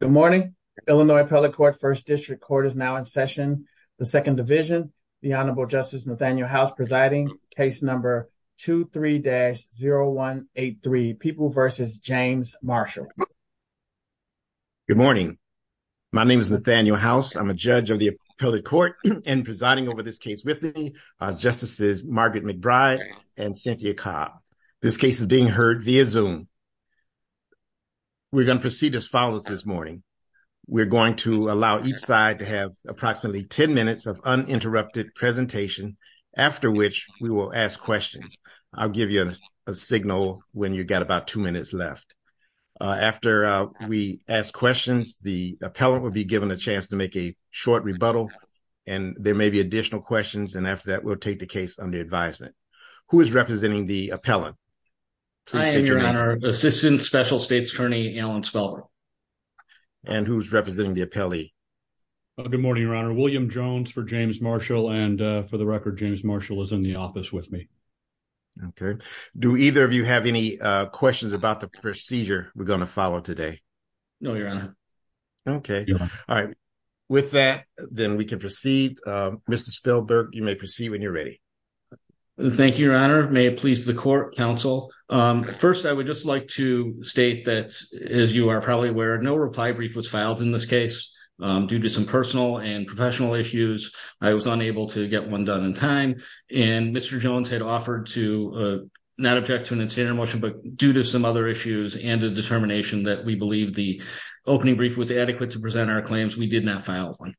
Good morning Illinois appellate court first district court is now in session the second division the honorable justice Nathaniel house presiding case number two three dash zero one eight three people versus James Marshall. Good morning my name is Nathaniel house I'm a judge of the appellate court and presiding over this case with me uh justices Margaret McBride and Cynthia Cobb this case is being heard via zoom. We're going to proceed as follows this morning we're going to allow each side to have approximately 10 minutes of uninterrupted presentation after which we will ask questions I'll give you a signal when you've got about two minutes left after we ask questions the appellate will be given a chance to make a short rebuttal and there may be additional questions and after that we'll take the case under advisement who is representing the appellant I am your honor assistant special states attorney Alan Spellberg and who's representing the appellee good morning your honor William Jones for James Marshall and for the record James Marshall is in the office with me okay do either of you have any uh questions about the procedure we're going to follow today no your honor okay all right with that then we can proceed uh Mr. Spellberg you may proceed when you're ready thank you your honor may it please the court counsel um first I would just like to state that as you are probably aware no reply brief was filed in this case um due to some personal and professional issues I was unable to get one done in time and Mr. Jones had offered to not object to an extended motion but due to some other issues and a determination that we believe the opening brief was adequate to present our claims we did not file one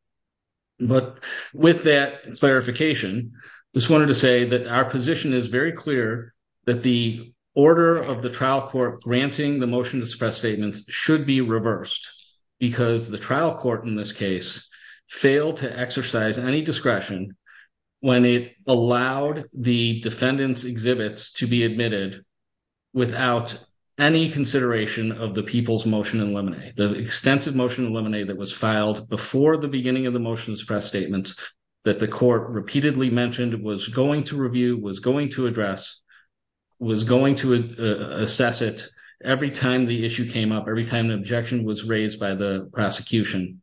but with that clarification just wanted to say that our position is very clear that the order of the trial court granting the motion to suppress statements should be reversed because the trial court in this case failed to exercise any discretion when it allowed the defendants exhibits to be admitted without any consideration of the people's motion and lemonade the extensive motion that was filed before the beginning of the motion to suppress statements that the court repeatedly mentioned was going to review was going to address was going to assess it every time the issue came up every time the objection was raised by the prosecution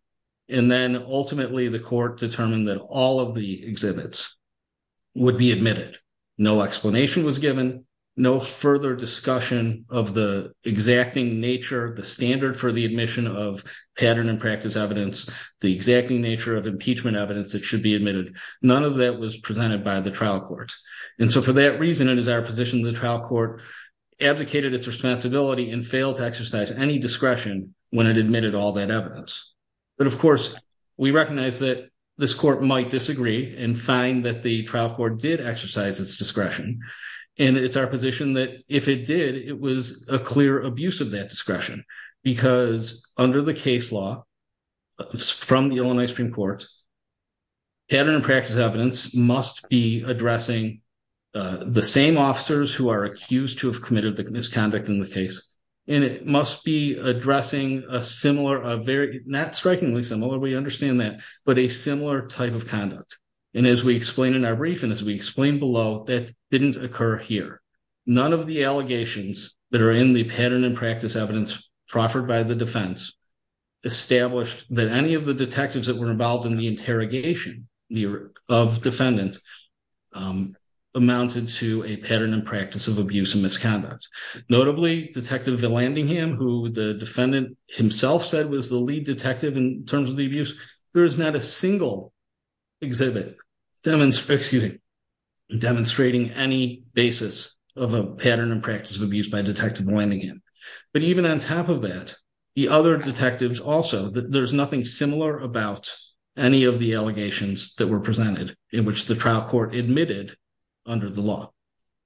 and then ultimately the court determined that all of the exhibits would be admitted no explanation was given no further discussion of the exacting nature the standard for the admission of pattern and practice evidence the exacting nature of impeachment evidence that should be admitted none of that was presented by the trial court and so for that reason it is our position the trial court advocated its responsibility and failed to exercise any discretion when it admitted all that evidence but of course we recognize that this court might disagree and find that the trial court did it was a clear abuse of that discretion because under the case law from the illinois supreme court pattern and practice evidence must be addressing the same officers who are accused to have committed the misconduct in the case and it must be addressing a similar a very not strikingly similar we understand that but a similar type of conduct and as we explain in our brief and as we that are in the pattern and practice evidence proffered by the defense established that any of the detectives that were involved in the interrogation of defendant amounted to a pattern and practice of abuse and misconduct notably detective villingham who the defendant himself said was the lead detective in terms of the abuse there is not a single exhibit demonstrating demonstrating any basis of a pattern and practice of abuse by detective villingham but even on top of that the other detectives also that there's nothing similar about any of the allegations that were presented in which the trial court admitted under the law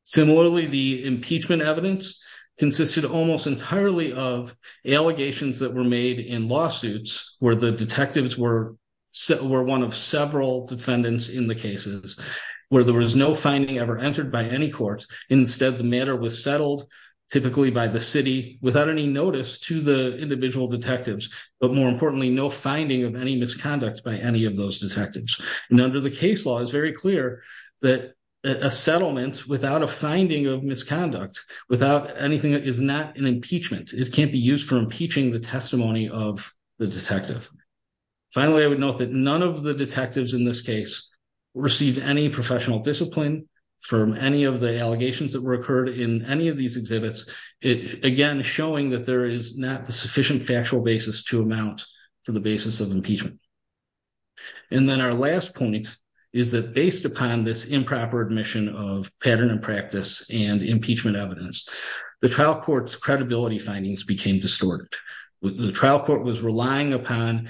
similarly the impeachment evidence consisted almost entirely of allegations that were made in lawsuits where the detectives were were one of several defendants in the cases where there was no finding ever entered by any court instead the matter was settled typically by the city without any notice to the individual detectives but more importantly no finding of any misconduct by any of those detectives and under the case law is very clear that a settlement without a finding of misconduct without anything that is not an impeachment it can't be used for impeaching the testimony of the detective finally i would note that none of the detectives in this case received any professional discipline from any of the allegations that were occurred in any of these exhibits it again showing that there is not the sufficient factual basis to amount for the basis of impeachment and then our last point is that based upon this improper admission of pattern practice and impeachment evidence the trial court's credibility findings became distorted the trial court was relying upon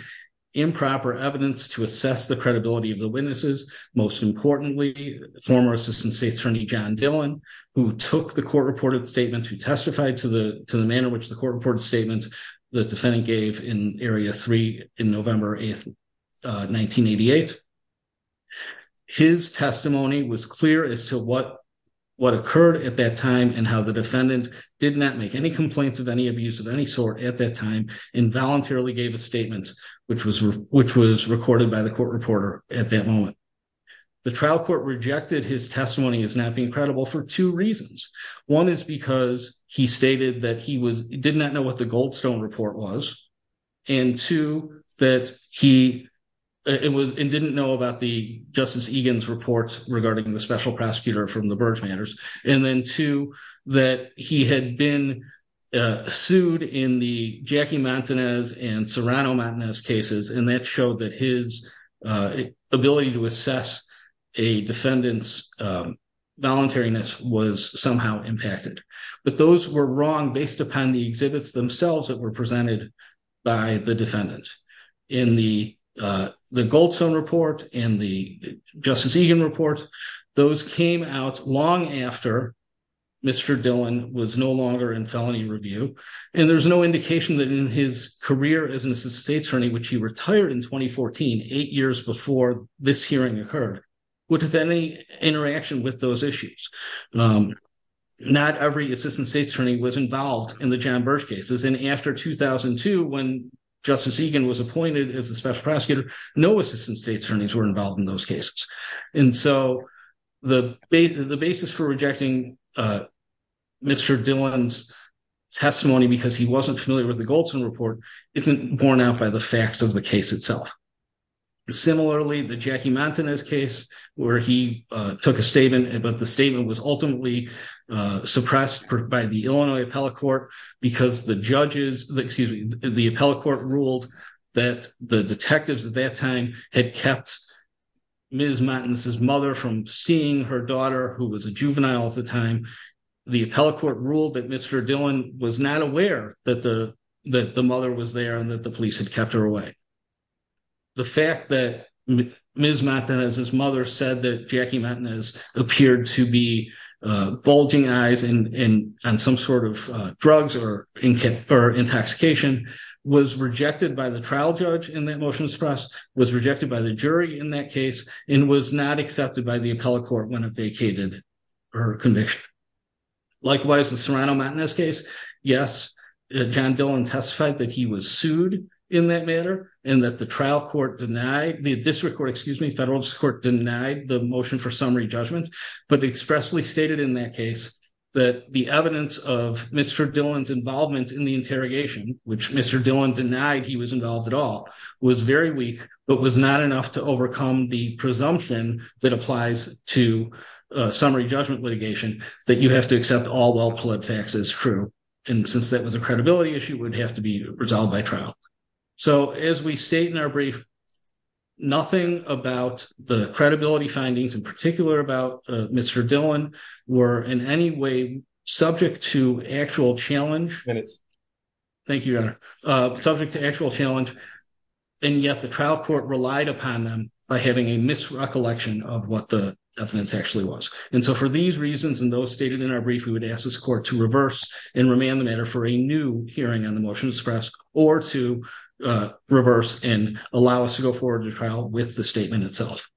improper evidence to assess the credibility of the witnesses most importantly former assistant state attorney john dillon who took the court reported statement who testified to the to the manner which the court reported statement the defendant gave in what occurred at that time and how the defendant did not make any complaints of any abuse of any sort at that time involuntarily gave a statement which was which was recorded by the court reporter at that moment the trial court rejected his testimony as not being credible for two reasons one is because he stated that he was did not know what the goldstone report was and two that he it was and didn't know about the justice egan's reports regarding the special prosecutor from the birch matters and then two that he had been sued in the jackie montanez and serrano montanez cases and that showed that his ability to assess a defendant's um voluntariness was somehow impacted but those were wrong based upon the exhibits themselves that were presented by the defendant in the uh the goldstone report and the justice egan report those came out long after mr dillon was no longer in felony review and there's no indication that in his career as an assistant state attorney which he retired in 2014 eight years before this hearing occurred would have any interaction with those issues um not every assistant state attorney was involved in the john birch cases and after 2002 when justice egan was appointed as the special prosecutor no assistant state attorneys were involved in those cases and so the the basis for rejecting uh mr dillon's testimony because he wasn't familiar with the goldstone report isn't borne out by the facts of the case itself similarly the jackie montanez case where he uh took a statement but the statement was ultimately uh suppressed by the illinois appellate court because the judges excuse me the appellate court ruled that the detectives at that time had kept ms montanez's mother from seeing her daughter who was a juvenile at the time the appellate court ruled that mr dillon was not aware that the that the mother was there and that the police had kept her away the fact that ms montanez's mother said that jackie montanez appeared to be uh bulging eyes and and on some sort of uh drugs or in or intoxication was rejected by the trial judge in that motion of suppress was rejected by the jury in that case and was not accepted by the appellate court when it vacated her conviction likewise the serrano matinez case yes john dillon testified that he was sued in that matter and that the trial court denied the district court excuse me federal court denied the motion for summary judgment but expressly stated in that case that the evidence of mr dillon's involvement in the interrogation which mr dillon denied he was involved at all was very weak but was not enough to overcome the presumption that applies to uh summary judgment litigation that you have to accept all well-pled facts as true and since that was a resolved by trial so as we state in our brief nothing about the credibility findings in particular about mr dillon were in any way subject to actual challenge thank you your honor uh subject to actual challenge and yet the trial court relied upon them by having a misrecollection of what the evidence actually was and so for these reasons and those stated in our brief we would ask this and remand the matter for a new hearing on the motion to suppress or to reverse and allow us to go forward to trial with the statement itself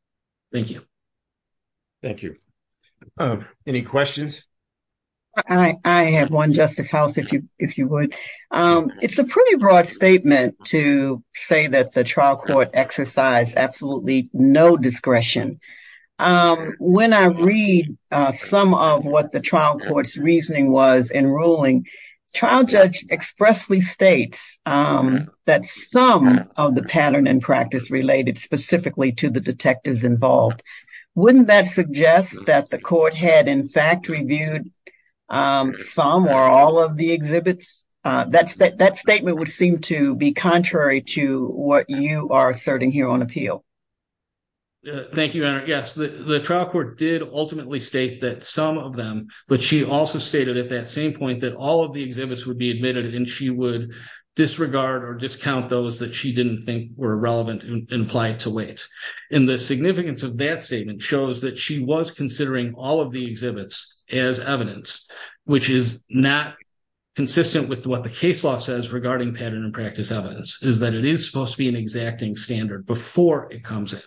thank you thank you um any questions i i have one justice house if you if you would um it's a pretty broad statement to say that the trial court exercised absolutely no discretion um when i read uh some of what the trial court's reasoning was in ruling trial judge expressly states um that some of the pattern and practice related specifically to the detectives involved wouldn't that suggest that the court had in fact reviewed um some or all of the exhibits uh that's that statement would seem to be contrary to what you are asserting here on appeal thank you yes the the trial court did ultimately state that some of them but she also stated at that same point that all of the exhibits would be admitted and she would disregard or discount those that she didn't think were relevant and apply to wait and the significance of that statement shows that she was considering all of the exhibits as evidence which is not consistent with what the case law says regarding pattern and practice evidence is that it is supposed to be an exacting standard before it comes in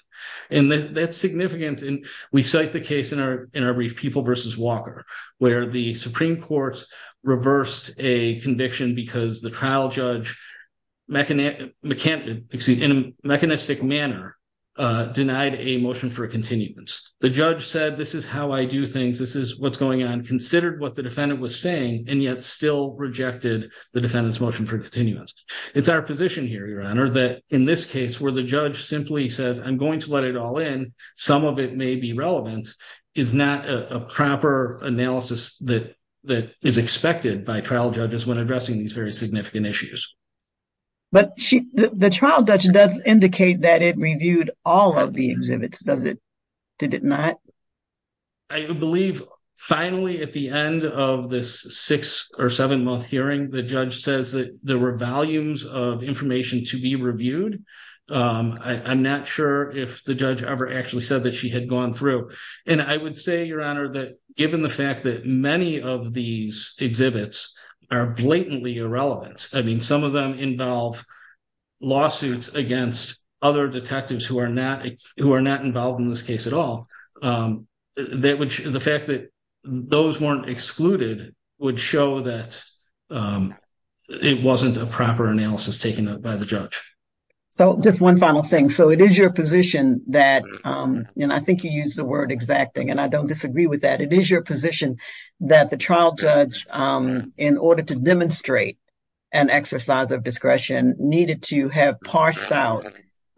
and that's significant and we cite the case in our in our brief people versus walker where the supreme court reversed a conviction because the trial judge mechanic mechanic excuse me in a mechanistic manner uh denied a motion for a continuance the judge said this is how i do things this is what's going on considered what the defendant was saying and yet still rejected the defendant's motion for continuance it's our position here your honor that in this case where the judge simply says i'm going to let it all in some of it may be relevant is not a proper analysis that that is expected by trial judges when addressing these very significant issues but she the trial judge does indicate that it reviewed all of the exhibits does it did it not i believe finally at the end of this six or seven month hearing the judge says that there were volumes of information to be reviewed um i'm not sure if the judge ever actually said that she had gone through and i would say your honor that given the fact that many of these exhibits are blatantly irrelevant i mean some of them involve lawsuits against other detectives who are not who are not involved in this case at all um that which the fact that those weren't excluded would show that um it wasn't a proper analysis taken up by the judge so just one final thing so it is your position that um and i think you use the word exacting and i don't disagree with that it is your position that the trial judge um in order to demonstrate an exercise of discretion needed to have parsed out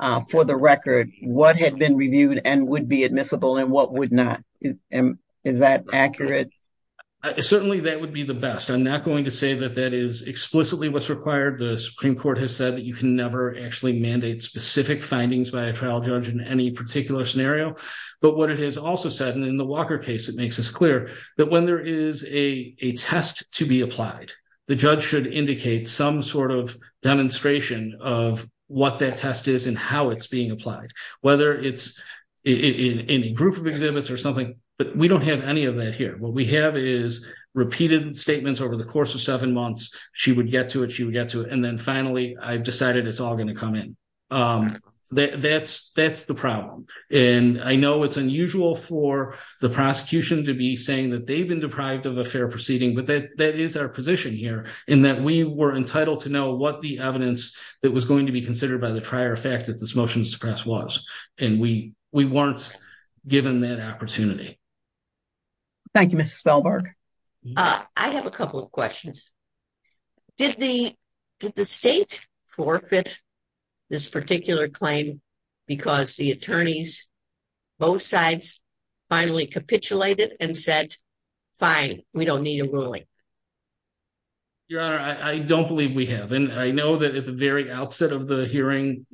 uh for the record what had been reviewed and would be admissible and what would not is that accurate certainly that would be the best i'm not going to say that that is explicitly what's required the supreme court has said that you can never actually mandate specific findings by a trial judge in any particular scenario but what it has also said and in the walker case it makes us clear that when there is a a test to be applied the judge should indicate some sort of demonstration of what that it's in in a group of exhibits or something but we don't have any of that here what we have is repeated statements over the course of seven months she would get to it she would get to it and then finally i've decided it's all going to come in um that that's that's the problem and i know it's unusual for the prosecution to be saying that they've been deprived of a fair proceeding but that that is our position here in that we were entitled to know what the evidence that was going to be considered by the prior effect that this motion to suppress was and we we weren't given that opportunity thank you mrs velberg uh i have a couple of questions did the did the state forfeit this particular claim because the attorneys both sides finally capitulated and said fine we don't need a ruling your honor i don't believe we have and i know that at the very outset of the hearing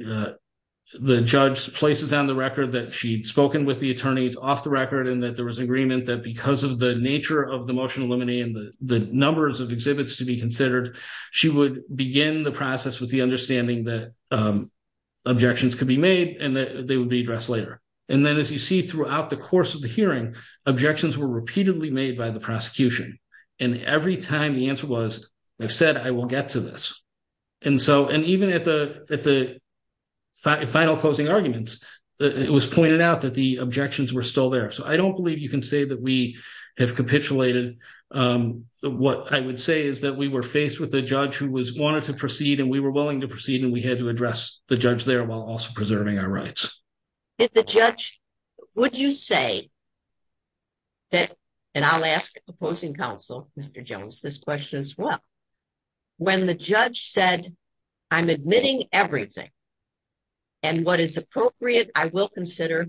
the judge places on the record that she'd spoken with the attorneys off the record and that there was agreement that because of the nature of the motion eliminating the the numbers of exhibits to be considered she would begin the process with the understanding that um objections could be made and that they would be addressed later and then as you see throughout the course of the hearing objections were repeatedly made by the prosecution and every time the answer was they've said i will get to this and so and even at the at the final closing arguments it was pointed out that the objections were still there so i don't believe you can say that we have capitulated um what i would say is that we were faced with a judge who was wanted to proceed and we were willing to proceed and we had to address the judge there while also preserving our rights if the judge would you say that and i'll ask opposing counsel mr jones this question as well when the judge said i'm admitting everything and what is appropriate i will consider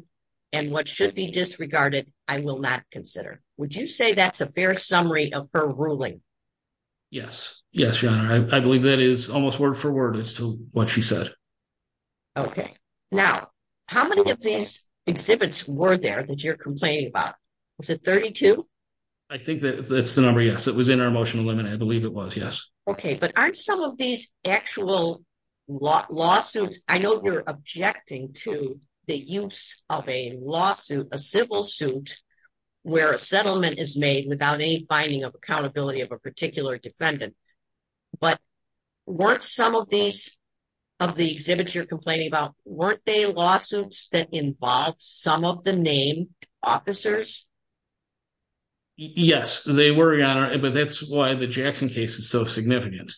and what should be disregarded i will not consider would you say that's a fair summary of her ruling yes yes your honor i believe that is almost word for word as to what she said okay now how many of these exhibits were there that you're complaining about was it 32 i think that that's the number yes it was in our motion eliminate i believe it was yes okay but aren't some of these actual lawsuits i know you're objecting to the use of a lawsuit a civil suit where a settlement is made without any binding of accountability of a particular defendant but weren't some of these of the exhibits you're complaining about weren't they lawsuits that involve some of the named officers yes they were your honor but that's why the jackson case is so significant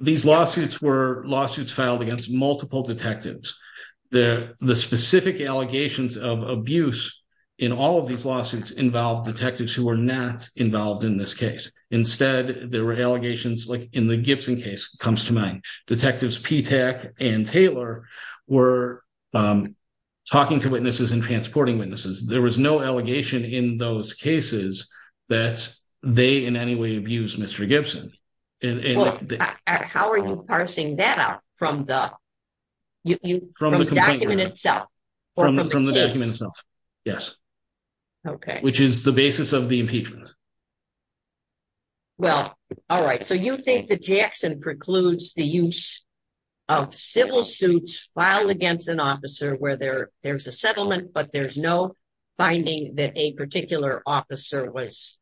these lawsuits were lawsuits filed against multiple detectives the the specific allegations of abuse in all of these lawsuits involved detectives who were not involved in this case instead there were allegations like in the gibson case comes to mind detectives p-tech and taylor were talking to witnesses and transporting witnesses there was no allegation in those cases that they in any way abused mr gibson and how are you parsing that out from the you from the document itself from the document itself yes okay which is the basis of the impeachment well all right so you think that jackson precludes the use of civil suits filed against an officer where there there's a settlement but there's no finding that a particular officer was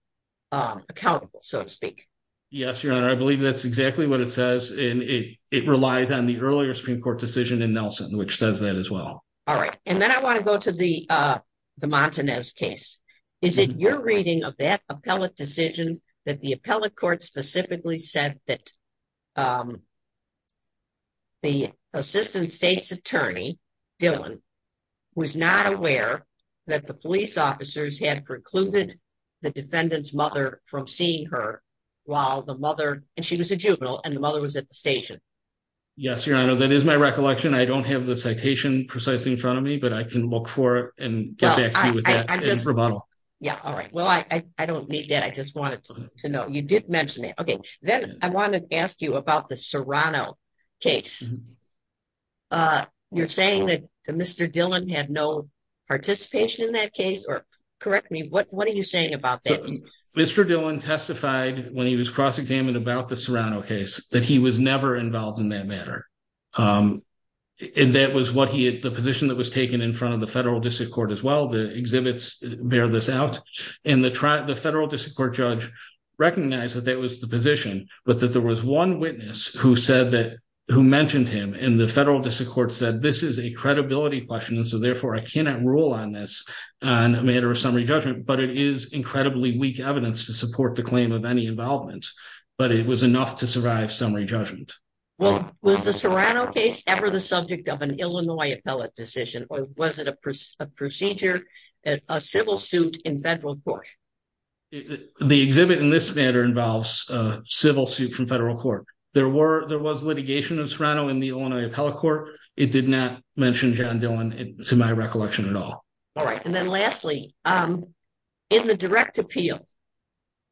accountable so to speak yes your honor i believe that's exactly what it says and it it in nelson which says that as well all right and then i want to go to the uh the montanez case is it your reading of that appellate decision that the appellate court specifically said that the assistant state's attorney dylan was not aware that the police officers had precluded the defendant's mother from seeing her while the mother and she was a juvenile and the mother was stationed yes your honor that is my recollection i don't have the citation precisely in front of me but i can look for it and get back to you with that rebuttal yeah all right well i i don't need that i just wanted to know you did mention it okay then i wanted to ask you about the serrano case uh you're saying that mr dylan had no participation in that case or correct me what what are you saying about that mr dylan testified when he was cross-examined about the serrano case that he was never involved in that matter um and that was what he had the position that was taken in front of the federal district court as well the exhibits bear this out and the trial the federal district court judge recognized that that was the position but that there was one witness who said that who mentioned him and the federal district court said this is a credibility question and so therefore i cannot rule on this on a matter of summary judgment but it is incredibly weak evidence to support the claim of any involvement but it was enough to survive summary judgment well was the serrano case ever the subject of an illinois appellate decision or was it a procedure a civil suit in federal court the exhibit in this matter involves a civil suit from federal court there were there was litigation of serrano in the illinois appellate court it did not mention john dylan to my recollection at all all right and then lastly um in the direct appeal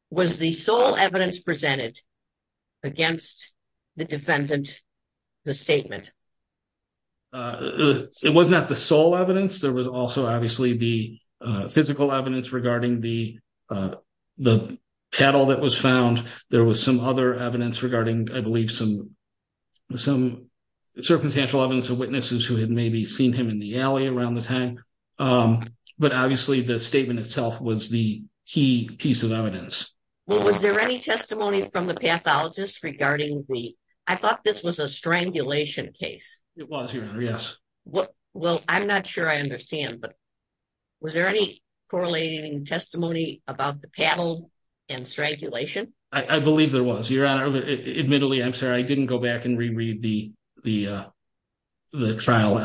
was the sole evidence presented against the defendant the statement uh it was not the sole evidence there was also obviously the uh physical evidence regarding the uh the cattle that was found there was some other evidence regarding i believe some some circumstantial evidence of witnesses who had maybe seen him in the alley around the tank um but obviously the statement itself was the key piece of evidence well was there any testimony from the pathologist regarding the i thought this was a strangulation case it was your honor yes what well i'm not sure i understand but was there any correlating testimony about the paddle and strangulation i i believe there was your honor admittedly i'm sorry i didn't go back and that's all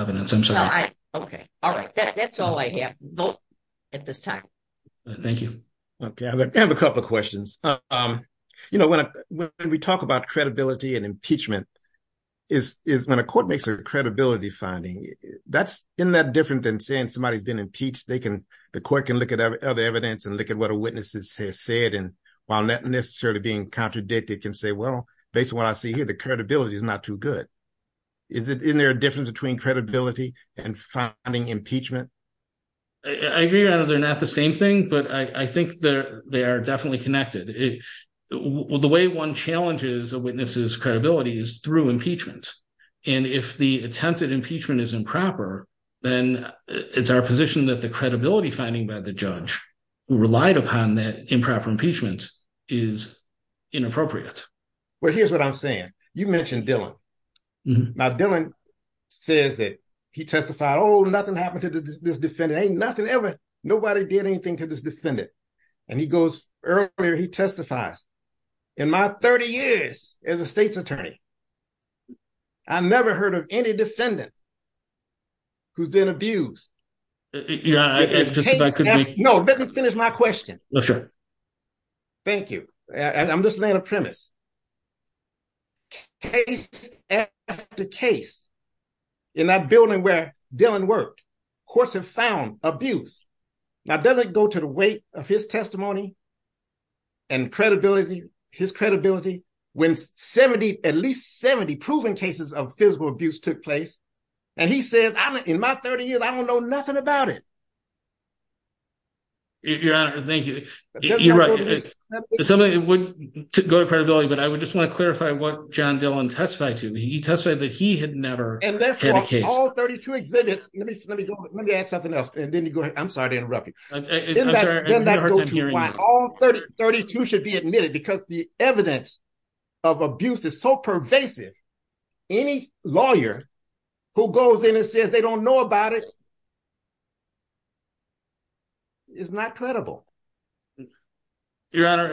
i have at this time thank you okay i have a couple of questions um you know when we talk about credibility and impeachment is is when a court makes a credibility finding that's in that different than saying somebody's been impeached they can the court can look at other evidence and look at what a witness has said and while not necessarily being contradicted can say well based on what i see here the credibility is not too good is it in there a difference between credibility and finding impeachment i agree that they're not the same thing but i i think that they are definitely connected well the way one challenges a witness's credibility is through impeachment and if the attempted impeachment is improper then it's our position that the credibility finding by the judge who relied upon that improper impeachment is inappropriate well here's what i'm saying you mentioned dylan now dylan says that he testified oh nothing happened to this defendant ain't nothing ever nobody did anything to this defendant and he goes earlier he testifies in my 30 years as a state's attorney i never heard of any defendant who's been abused yeah no let me finish my question no sure thank you i'm just laying a premise case after case in that building where dylan worked courts have found abuse now does it go to the weight of his testimony and credibility his credibility when 70 at least 70 proven cases of physical abuse took place and he says i'm in my 30 years i don't know nothing about it your honor thank you you're right something it would go to credibility but i would just want to clarify what john dylan testified to me he testified that he had never and therefore all 32 exhibits let me let me go let me add something else and then you go ahead i'm sorry to interrupt you all 30 32 should be admitted because the evidence of abuse is so pervasive any lawyer who goes in and says they don't know about it is not credible your honor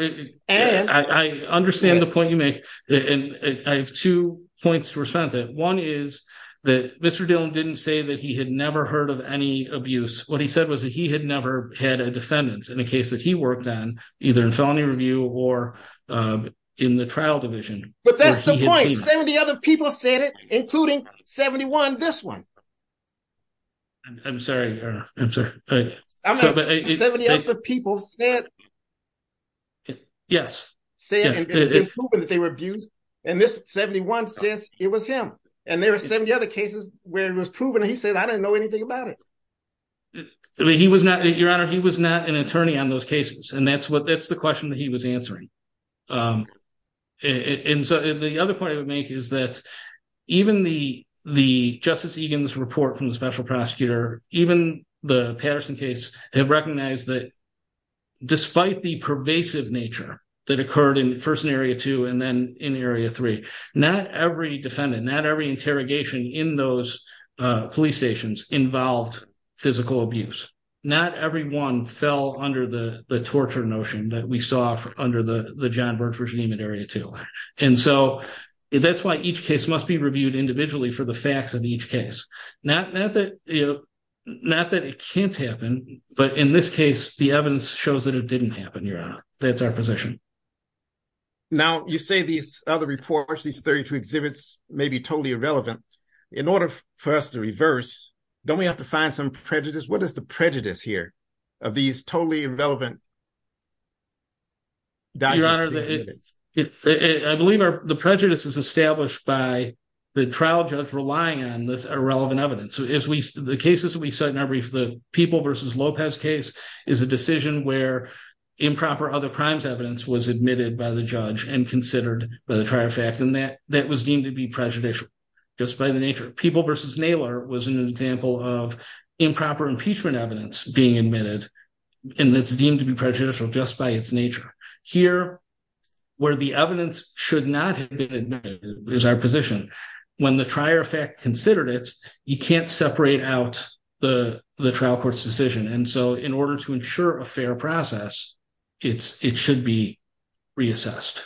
and i understand the point you make and i have two points to respond to one is that mr dylan didn't say that he had never heard of any abuse what he said was that he had never had a defendant in a case that he worked on either in felony review or um in the trial division but that's the point 70 other people said it including 71 this one i'm sorry 70 of the people said yes saying that they were abused and this 71 says it was him and there are 70 other cases where it was proven he said i didn't know anything about it i mean he was not your honor he was not an attorney on those cases and that's what that's the question that he was answering um and so the other point i would make is that even the the justice egan's report from the special prosecutor even the patterson case have recognized that despite the pervasive nature that occurred in first in area two and then in area three not every defendant not every interrogation in those uh police stations involved physical abuse not everyone fell under the the torture notion that we saw under the the john birch regime in area two and so that's why each case must be reviewed individually for the facts of each case not not that you know not that it can't happen but in this case the evidence shows that it didn't happen your honor that's our position now you say these other reports these 32 exhibits may be totally irrelevant in order for us to reverse don't we have to find some prejudice what is the prejudice here of these totally irrelevant your honor i believe our the prejudice is established by the trial judge relying on this irrelevant evidence as we the cases we said in our brief the people versus lopez case is a decision where improper other crimes evidence was admitted by the judge and considered by the trial fact and that that was deemed to be prejudicial just by the nature of people versus nailer was an example of it's deemed to be prejudicial just by its nature here where the evidence should not have been is our position when the trier fact considered it you can't separate out the the trial court's decision and so in order to ensure a fair process it's it should be reassessed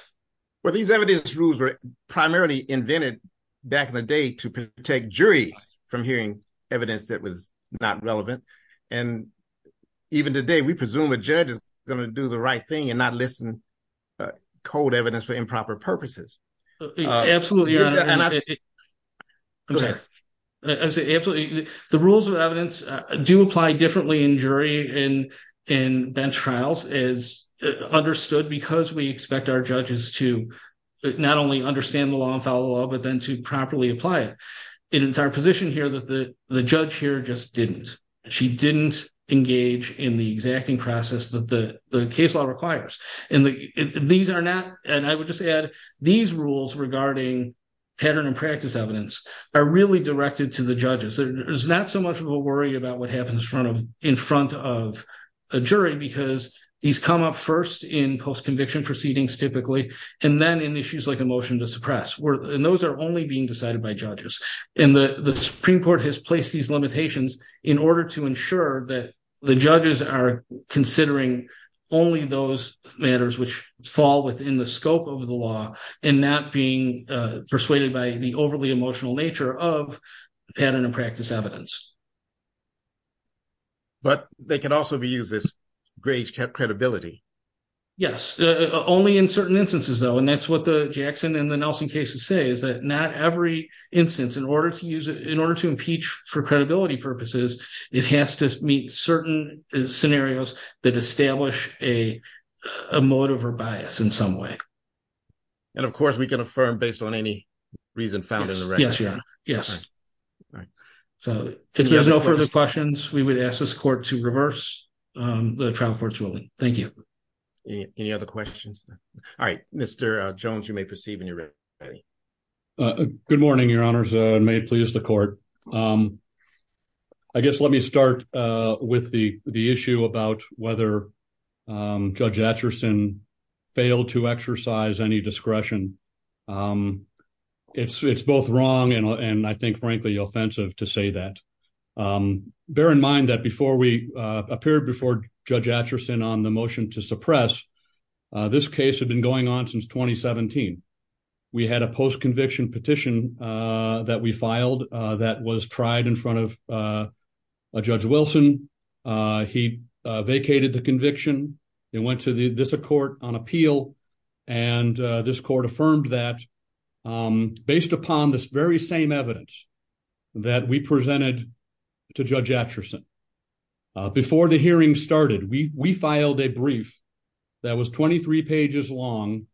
well these evidence rules were primarily invented back in the day to protect juries from hearing evidence that was not relevant and even today we presume a judge is going to do the right thing and not listen cold evidence for improper purposes absolutely i'm sorry absolutely the rules of evidence do apply differently in jury in in bench trials is understood because we expect our judges to not only understand the law and follow up but then to properly apply it and it's our position here that the the judge here just didn't she didn't engage in the exacting process that the the case law requires and the these are not and i would just add these rules regarding pattern and practice evidence are really directed to the judges there's not so much of a worry about what happens in front of in front of a jury because these come up first in post conviction proceedings typically and then in issues like a motion to suppress we're and those are only being decided by judges and the the supreme court has placed these limitations in order to ensure that the judges are considering only those matters which fall within the scope of the law and not being uh persuaded by the overly emotional nature of pattern and practice evidence but they can also be used as grave credibility yes only in certain instances though and that's what the jackson and the nelson cases say is that not every instance in order to use it in order to impeach for credibility purposes it has to meet certain scenarios that establish a motive or bias in some way and of course we can affirm based on any reason found in the register yes all right so if there's no further questions we would ask this court to reverse um the trial court's ruling thank you any other questions all right mr uh jones you may perceive in your good morning your honors uh may it please the court um i guess let me start uh with the the issue about whether um judge atchison failed to exercise any discretion um it's it's both wrong and and i think frankly offensive to say that um bear in mind that before we uh appeared before judge atchison on the motion to suppress uh this case had been going on since 2017 we had a post-conviction petition uh that we filed uh that was tried in front of uh judge wilson uh he vacated the conviction they went to the this court on appeal and this court affirmed that um based upon this very same evidence that we presented to judge atchison before the hearing started we we filed a brief that was 23 pages long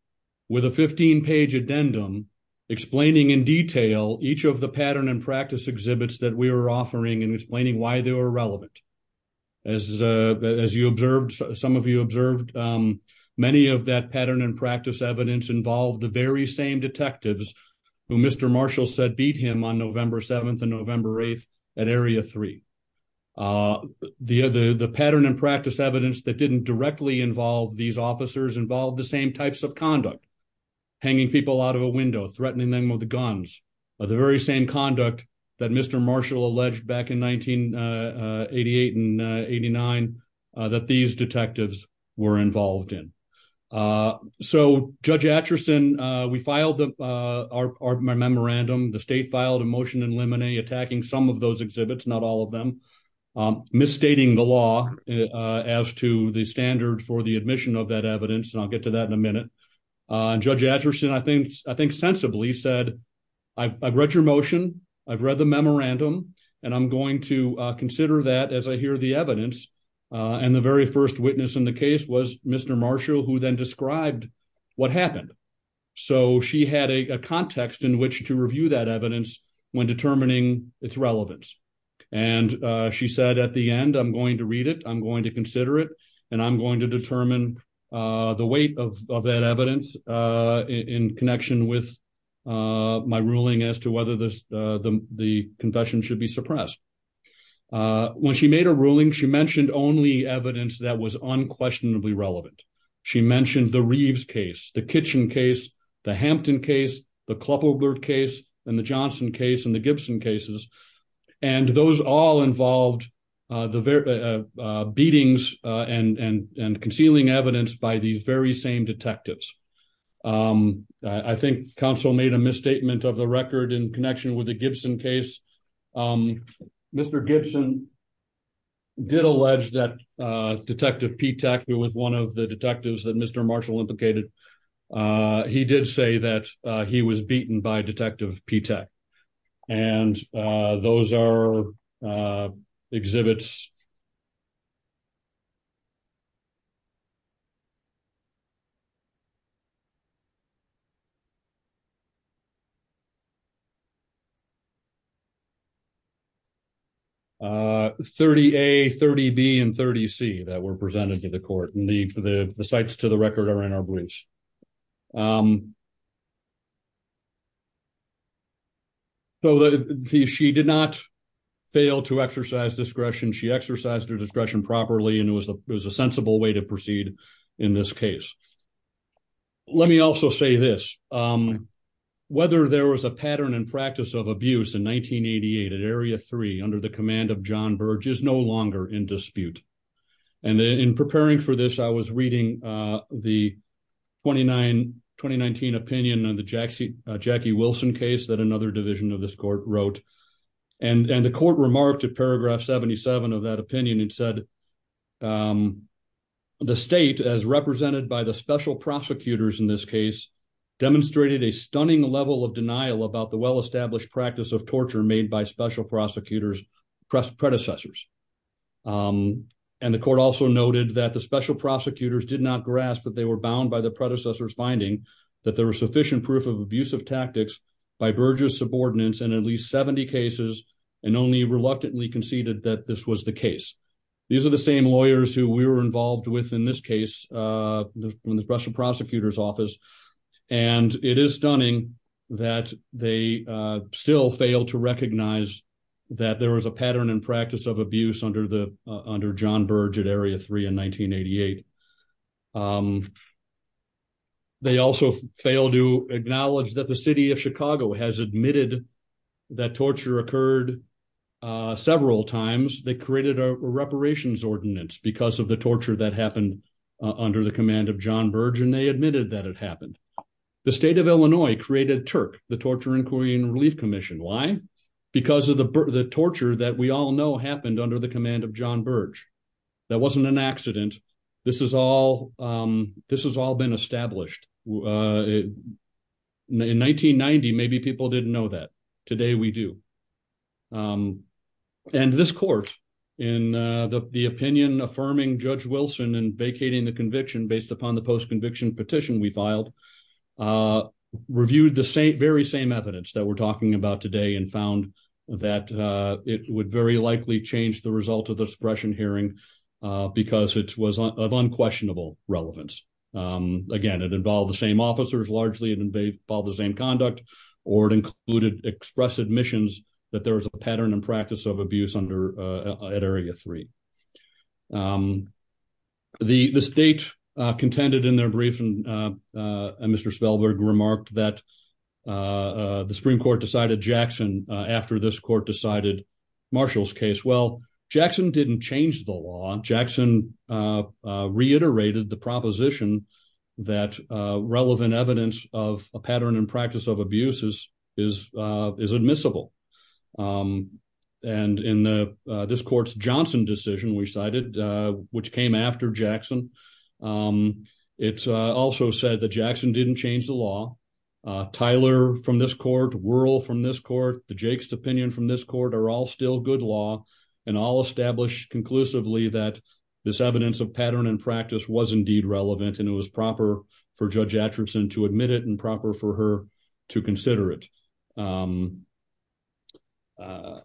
with a 15 page addendum explaining in detail each of the pattern and practice exhibits that we were offering and explaining why they were relevant as uh as you observed some of you observed um many of that pattern and practice evidence involved the very same detectives who mr marshall said beat him on the other the pattern and practice evidence that didn't directly involve these officers involved the same types of conduct hanging people out of a window threatening them with the guns or the very same conduct that mr marshall alleged back in 1988 and 89 that these detectives were involved in uh so judge atchison uh we filed the uh our memorandum the state filed a motion attacking some of those exhibits not all of them um misstating the law as to the standard for the admission of that evidence and i'll get to that in a minute uh judge atchison i think i think sensibly said i've read your motion i've read the memorandum and i'm going to consider that as i hear the evidence uh and the very first witness in the case was mr marshall who then its relevance and uh she said at the end i'm going to read it i'm going to consider it and i'm going to determine uh the weight of of that evidence uh in connection with uh my ruling as to whether this uh the the confession should be suppressed uh when she made a ruling she mentioned only evidence that was unquestionably relevant she mentioned the reeves case the kitchen case the hampton case the clupper bird case and the johnson case and gibson cases and those all involved uh the uh beatings uh and and and concealing evidence by these very same detectives um i think council made a misstatement of the record in connection with the gibson case um mr gibson did allege that uh detective p tech who was one of the detectives mr marshall implicated uh he did say that uh he was beaten by detective p tech and uh those are uh exhibits uh 30a 30b and 30c that were presented to the court and the the sites to the record are in our beliefs um so that she did not fail to exercise discretion she exercised her discretion properly and it was a sensible way to proceed in this case let me also say this um whether there was a pattern and practice of abuse in 1988 at area 3 under the command of john burge is no longer in dispute and in preparing for this i was reading uh the 29 2019 opinion on the jack c jackie wilson case that another division of this court wrote and and the court remarked at paragraph 77 of that opinion and said um the state as represented by the special prosecutors in this case demonstrated a stunning level of denial about the well-established practice of torture made by special prosecutors press predecessors um and the court also noted that the special prosecutors did not grasp that they were bound by the predecessors finding that there was sufficient proof of abusive tactics by burge's subordinates and at least 70 cases and only reluctantly conceded that this was the case these are the same lawyers who we were involved with in this case uh from the special prosecutor's a pattern and practice of abuse under the under john burge at area 3 in 1988 um they also fail to acknowledge that the city of chicago has admitted that torture occurred several times they created a reparations ordinance because of the torture that happened under the command of john burge and they admitted that it happened the state of illinois created the torture inquiry and relief commission why because of the torture that we all know happened under the command of john burge that wasn't an accident this is all um this has all been established uh in 1990 maybe people didn't know that today we do um and this court in uh the opinion affirming judge wilson and vacating the conviction based upon the post-conviction petition we filed uh reviewed the same very same evidence that we're talking about today and found that uh it would very likely change the result of the suppression hearing because it was of unquestionable relevance um again it involved the same officers largely and they follow the same conduct or it included express admissions that there was a pattern and and mr spelberg remarked that uh the supreme court decided jackson after this court decided marshall's case well jackson didn't change the law jackson uh reiterated the proposition that uh relevant evidence of a pattern and practice of abuses is uh is admissible um this court's johnson decision we cited uh which came after jackson um it's uh also said that jackson didn't change the law uh tyler from this court whirl from this court the jake's opinion from this court are all still good law and all established conclusively that this evidence of pattern and practice was indeed relevant and it was proper for judge atchison to admit it and proper for her to consider it um uh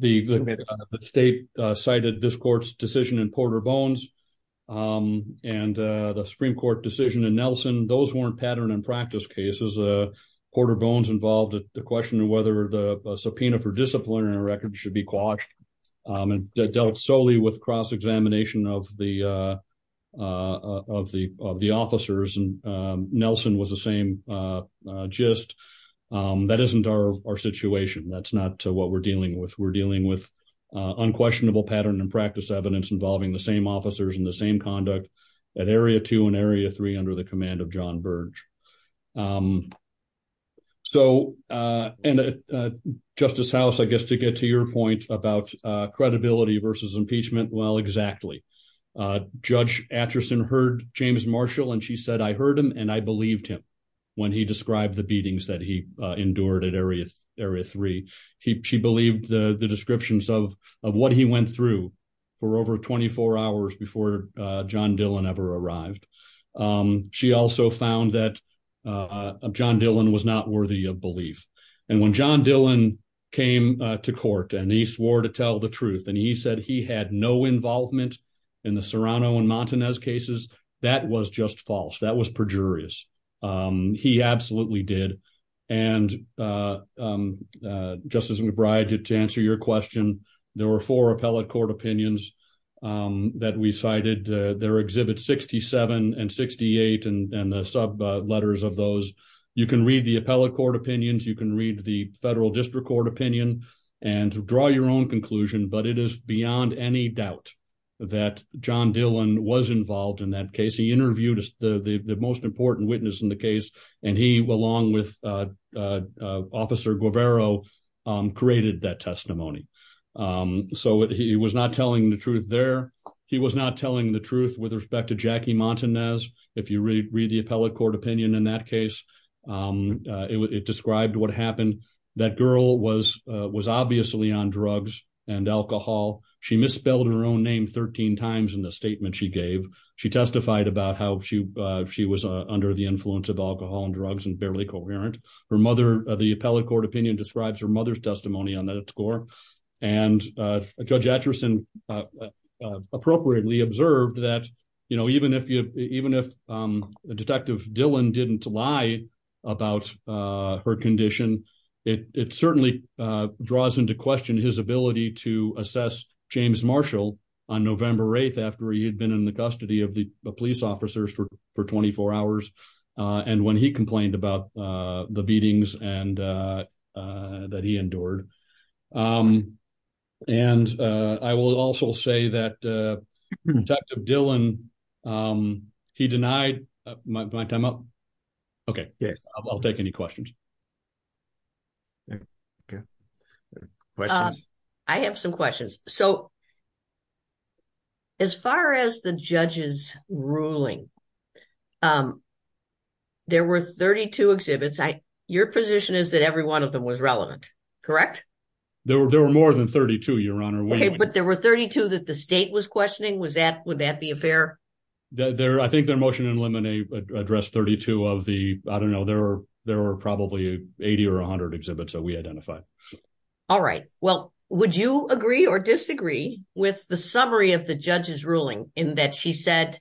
the the state cited this court's decision in porter bones um and uh the supreme court decision and nelson those weren't pattern and practice cases uh porter bones involved the question whether the subpoena for disciplinary records should be quashed and dealt solely with cross-examination of the uh uh of the of the officers and nelson was the same uh gist um that isn't our our situation that's not what we're dealing with we're dealing with uh unquestionable pattern and practice evidence involving the same officers and the same conduct at area two and area three under the command of john burge um so uh and uh justice house i guess to get to your point about uh credibility versus impeachment well exactly uh judge atchison heard james marshall and she said i heard him and i believed him when he described the beatings that he uh endured at area area three he she believed the the descriptions of of what he went through for over 24 hours before uh john dylan ever arrived um she also found that uh john dylan was not worthy of belief and when john dylan came to court and he swore to tell the truth and he said he had no involvement in the serrano and montanez cases that was just false that was perjurious um he absolutely did and uh um uh justice mcbride did to answer your question there were four appellate court opinions um that we cited their exhibit 67 and 68 and and the sub letters of those you can read the appellate court opinions you can read the federal district court opinion and draw your own conclusion but it is beyond any doubt that john dylan was involved in that case he interviewed the the most important witness in the case and he along with uh uh officer gubero um created that testimony um so he was not telling the truth there he was not telling the truth with respect to jackie montanez if you read the appellate court opinion in that case um it described what happened that girl was was obviously on drugs and alcohol she misspelled her own name 13 times in the statement she gave she testified about how she uh she was under the influence of alcohol and drugs and barely coherent her mother the appellate court opinion describes her mother's testimony on that score and uh judge atchison uh uh appropriately observed that you know even if you even if um detective dylan didn't lie about uh her condition it it certainly uh draws into question his ability to assess james marshall on november 8th after he had been in the custody of the police officers for for 24 hours uh and when he complained about uh the beatings and uh that he endured um and uh i will also say that uh detective dylan um he denied my time up okay yes i'll take any questions okay questions i have some questions so as far as the judge's ruling um there were 32 exhibits i your position is that every one of them was relevant correct there were there were than 32 your honor okay but there were 32 that the state was questioning was that would that be a fair there i think their motion in limine addressed 32 of the i don't know there were there were probably 80 or 100 exhibits that we identified all right well would you agree or disagree with the summary of the judge's ruling in that she said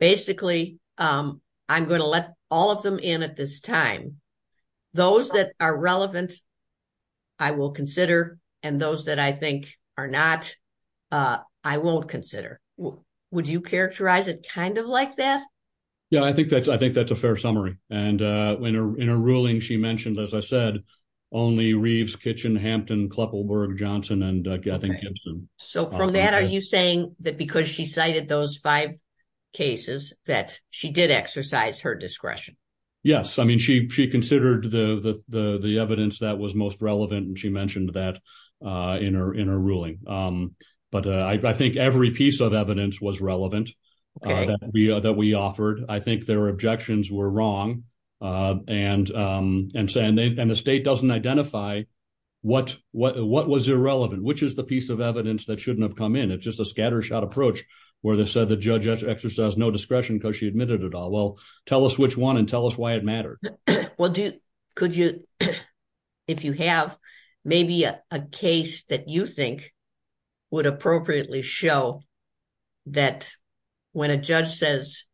basically um i'm going to let all of them in at this time those that are relevant i will consider and those that i think are not uh i won't consider would you characterize it kind of like that yeah i think that's i think that's a fair summary and uh when in a ruling she mentioned as i said only reeves kitchen hampton kleppelberg johnson and i think gibson so from that are you saying that because she cited those five cases that she did exercise her discretion yes i mean she she considered the the the evidence that was most relevant and she mentioned that uh in her in her ruling um but i think every piece of evidence was relevant uh that we that we offered i think their objections were wrong uh and um and saying and the state doesn't identify what what what was irrelevant which is the piece of evidence that shouldn't have come in it's just a scattershot approach where they said the judge exercised no discretion because she admitted it all well tell us which one and tell us why it mattered well do could you if you have maybe a case that you think would appropriately show that when a judge says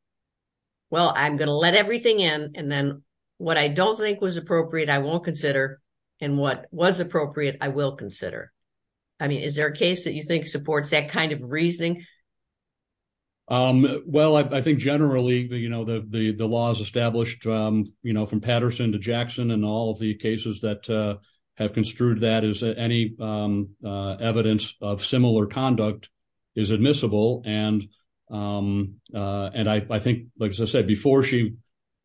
well i'm going to let everything in and then what i don't think was appropriate i won't consider and what was appropriate i will um well i think generally you know the the the law is established um you know from patterson to jackson and all of the cases that uh have construed that as any um uh evidence of similar conduct is admissible and um uh and i i think like as i said before she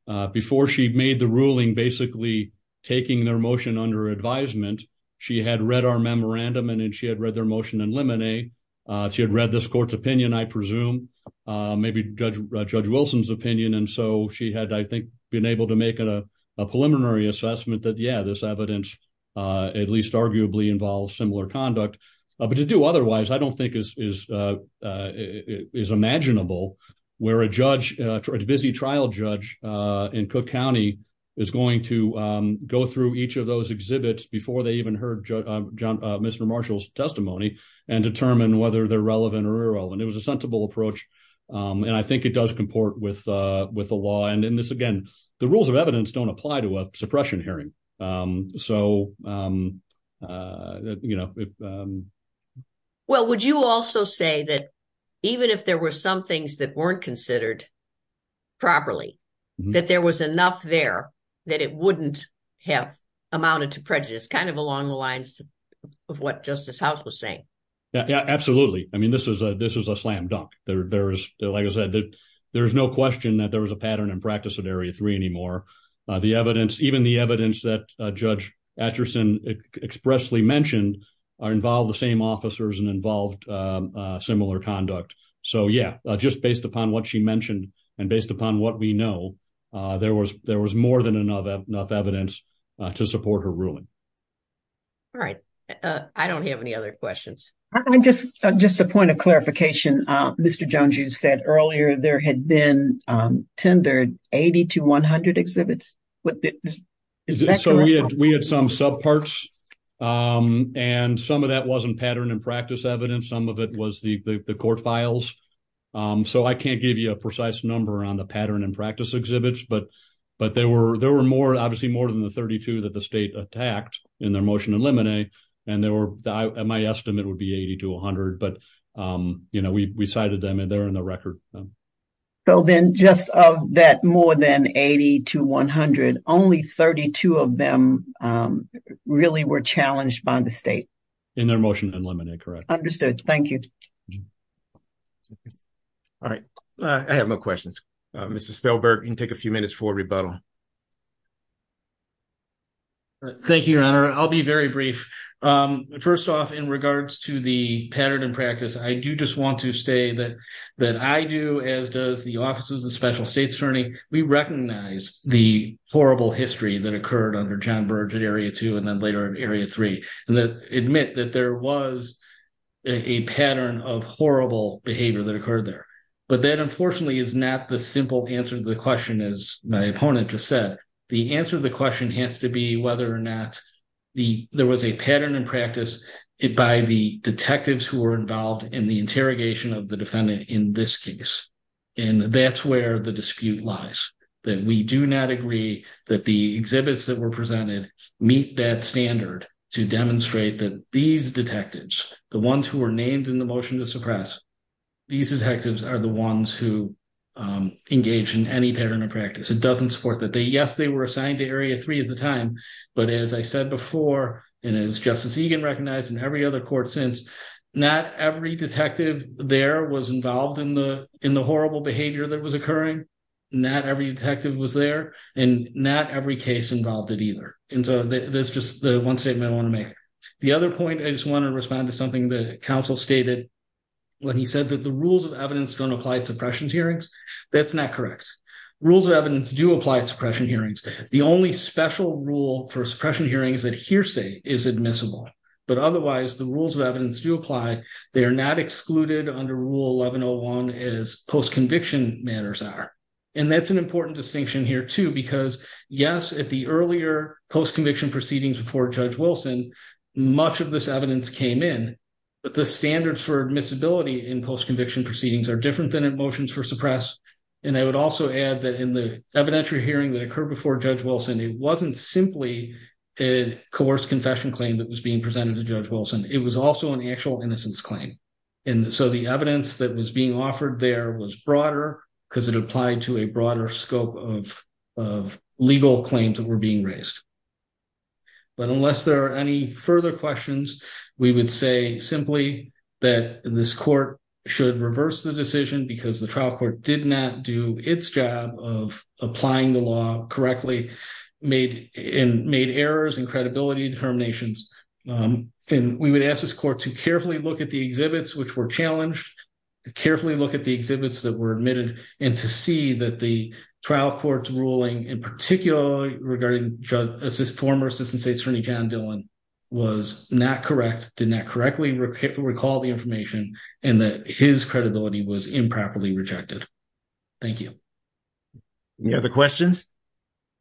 uh before she made the ruling basically taking their motion under advisement she had read our memorandum and she had read their motion in lemonade uh she had read this court's opinion i presume uh maybe judge judge wilson's opinion and so she had i think been able to make a preliminary assessment that yeah this evidence uh at least arguably involves similar conduct but to do otherwise i don't think is is is imaginable where a judge a busy trial judge uh in cook county is going to um go through each those exhibits before they even heard john mr marshall's testimony and determine whether they're relevant or irrelevant it was a sensible approach um and i think it does comport with uh with the law and in this again the rules of evidence don't apply to a suppression hearing um so um uh you know well would you also say that even if there were some things that weren't considered properly that there was enough there that it wouldn't have amounted to prejudice kind of along the lines of what justice house was saying yeah absolutely i mean this is a this is a slam dunk there there is like i said there is no question that there was a pattern in practice at area three anymore uh the evidence even the evidence that judge atchison expressly mentioned are involved the same officers and involved uh similar conduct so yeah just based upon what she mentioned and based upon what we know uh there was there was more than enough enough evidence to support her ruling all right uh i don't have any other questions i just just a point of clarification uh mr jung joo said earlier there had been um tendered 80 to 100 exhibits what is that so we had we had some subparts um and some of that wasn't pattern and practice evidence some of it was the the court files um so i can't give you a precise number on the pattern and practice exhibits but but there were there were more obviously more than the 32 that the state attacked in their motion to eliminate and there were my estimate would be 80 to 100 but um you know we we cited them and they're in the record so then just of that more than 80 to 100 only 32 of them um really were challenged by the state in their motion to eliminate correct understood thank you all right i have no questions mr spielberg can take a few minutes for rebuttal all right thank you your honor i'll be very brief um first off in regards to the pattern and practice i do just want to say that that i do as does the offices of special states attorney we recognize the horrible history that occurred under john burge at area two and then later in area three and that admit that there was a pattern of horrible behavior that occurred there but that the answer of the question has to be whether or not the there was a pattern in practice it by the detectives who were involved in the interrogation of the defendant in this case and that's where the dispute lies that we do not agree that the exhibits that were presented meet that standard to demonstrate that these detectives the ones who were named in the motion to suppress these detectives are the ones who engage in any pattern of practice it doesn't support that they yes they were assigned to area three at the time but as i said before and as justice egan recognized in every other court since not every detective there was involved in the in the horrible behavior that was occurring not every detective was there and not every case involved it either and so that's just the one statement i want to make the other point i just want to respond to something that counsel stated when he said that the rules of evidence don't suppression hearings that's not correct rules of evidence do apply suppression hearings the only special rule for suppression hearings that hearsay is admissible but otherwise the rules of evidence do apply they are not excluded under rule 1101 as post-conviction matters are and that's an important distinction here too because yes at the earlier post-conviction proceedings before judge wilson much of this evidence came in but the standards for admissibility in post-conviction proceedings are different than emotions for suppress and i would also add that in the evidentiary hearing that occurred before judge wilson it wasn't simply a coerced confession claim that was being presented to judge wilson it was also an actual innocence claim and so the evidence that was being offered there was broader because it applied to a broader scope of of legal claims that were being raised but unless there are any further questions we would say simply that this court should reverse the decision because the trial court did not do its job of applying the law correctly made in made errors and credibility determinations and we would ask this court to carefully look at the exhibits which were challenged to carefully look at the exhibits that were admitted and to see that the trial court's ruling in particular regarding judge assist former assistant state attorney john dylan was not correct did not correctly recall the information and that his credibility was improperly rejected thank you any other questions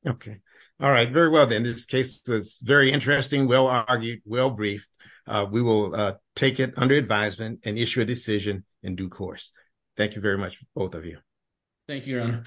okay all right very well then this case was very interesting well argued well briefed we will take it under advisement and issue a decision in due course thank you very much both of you thank you your honor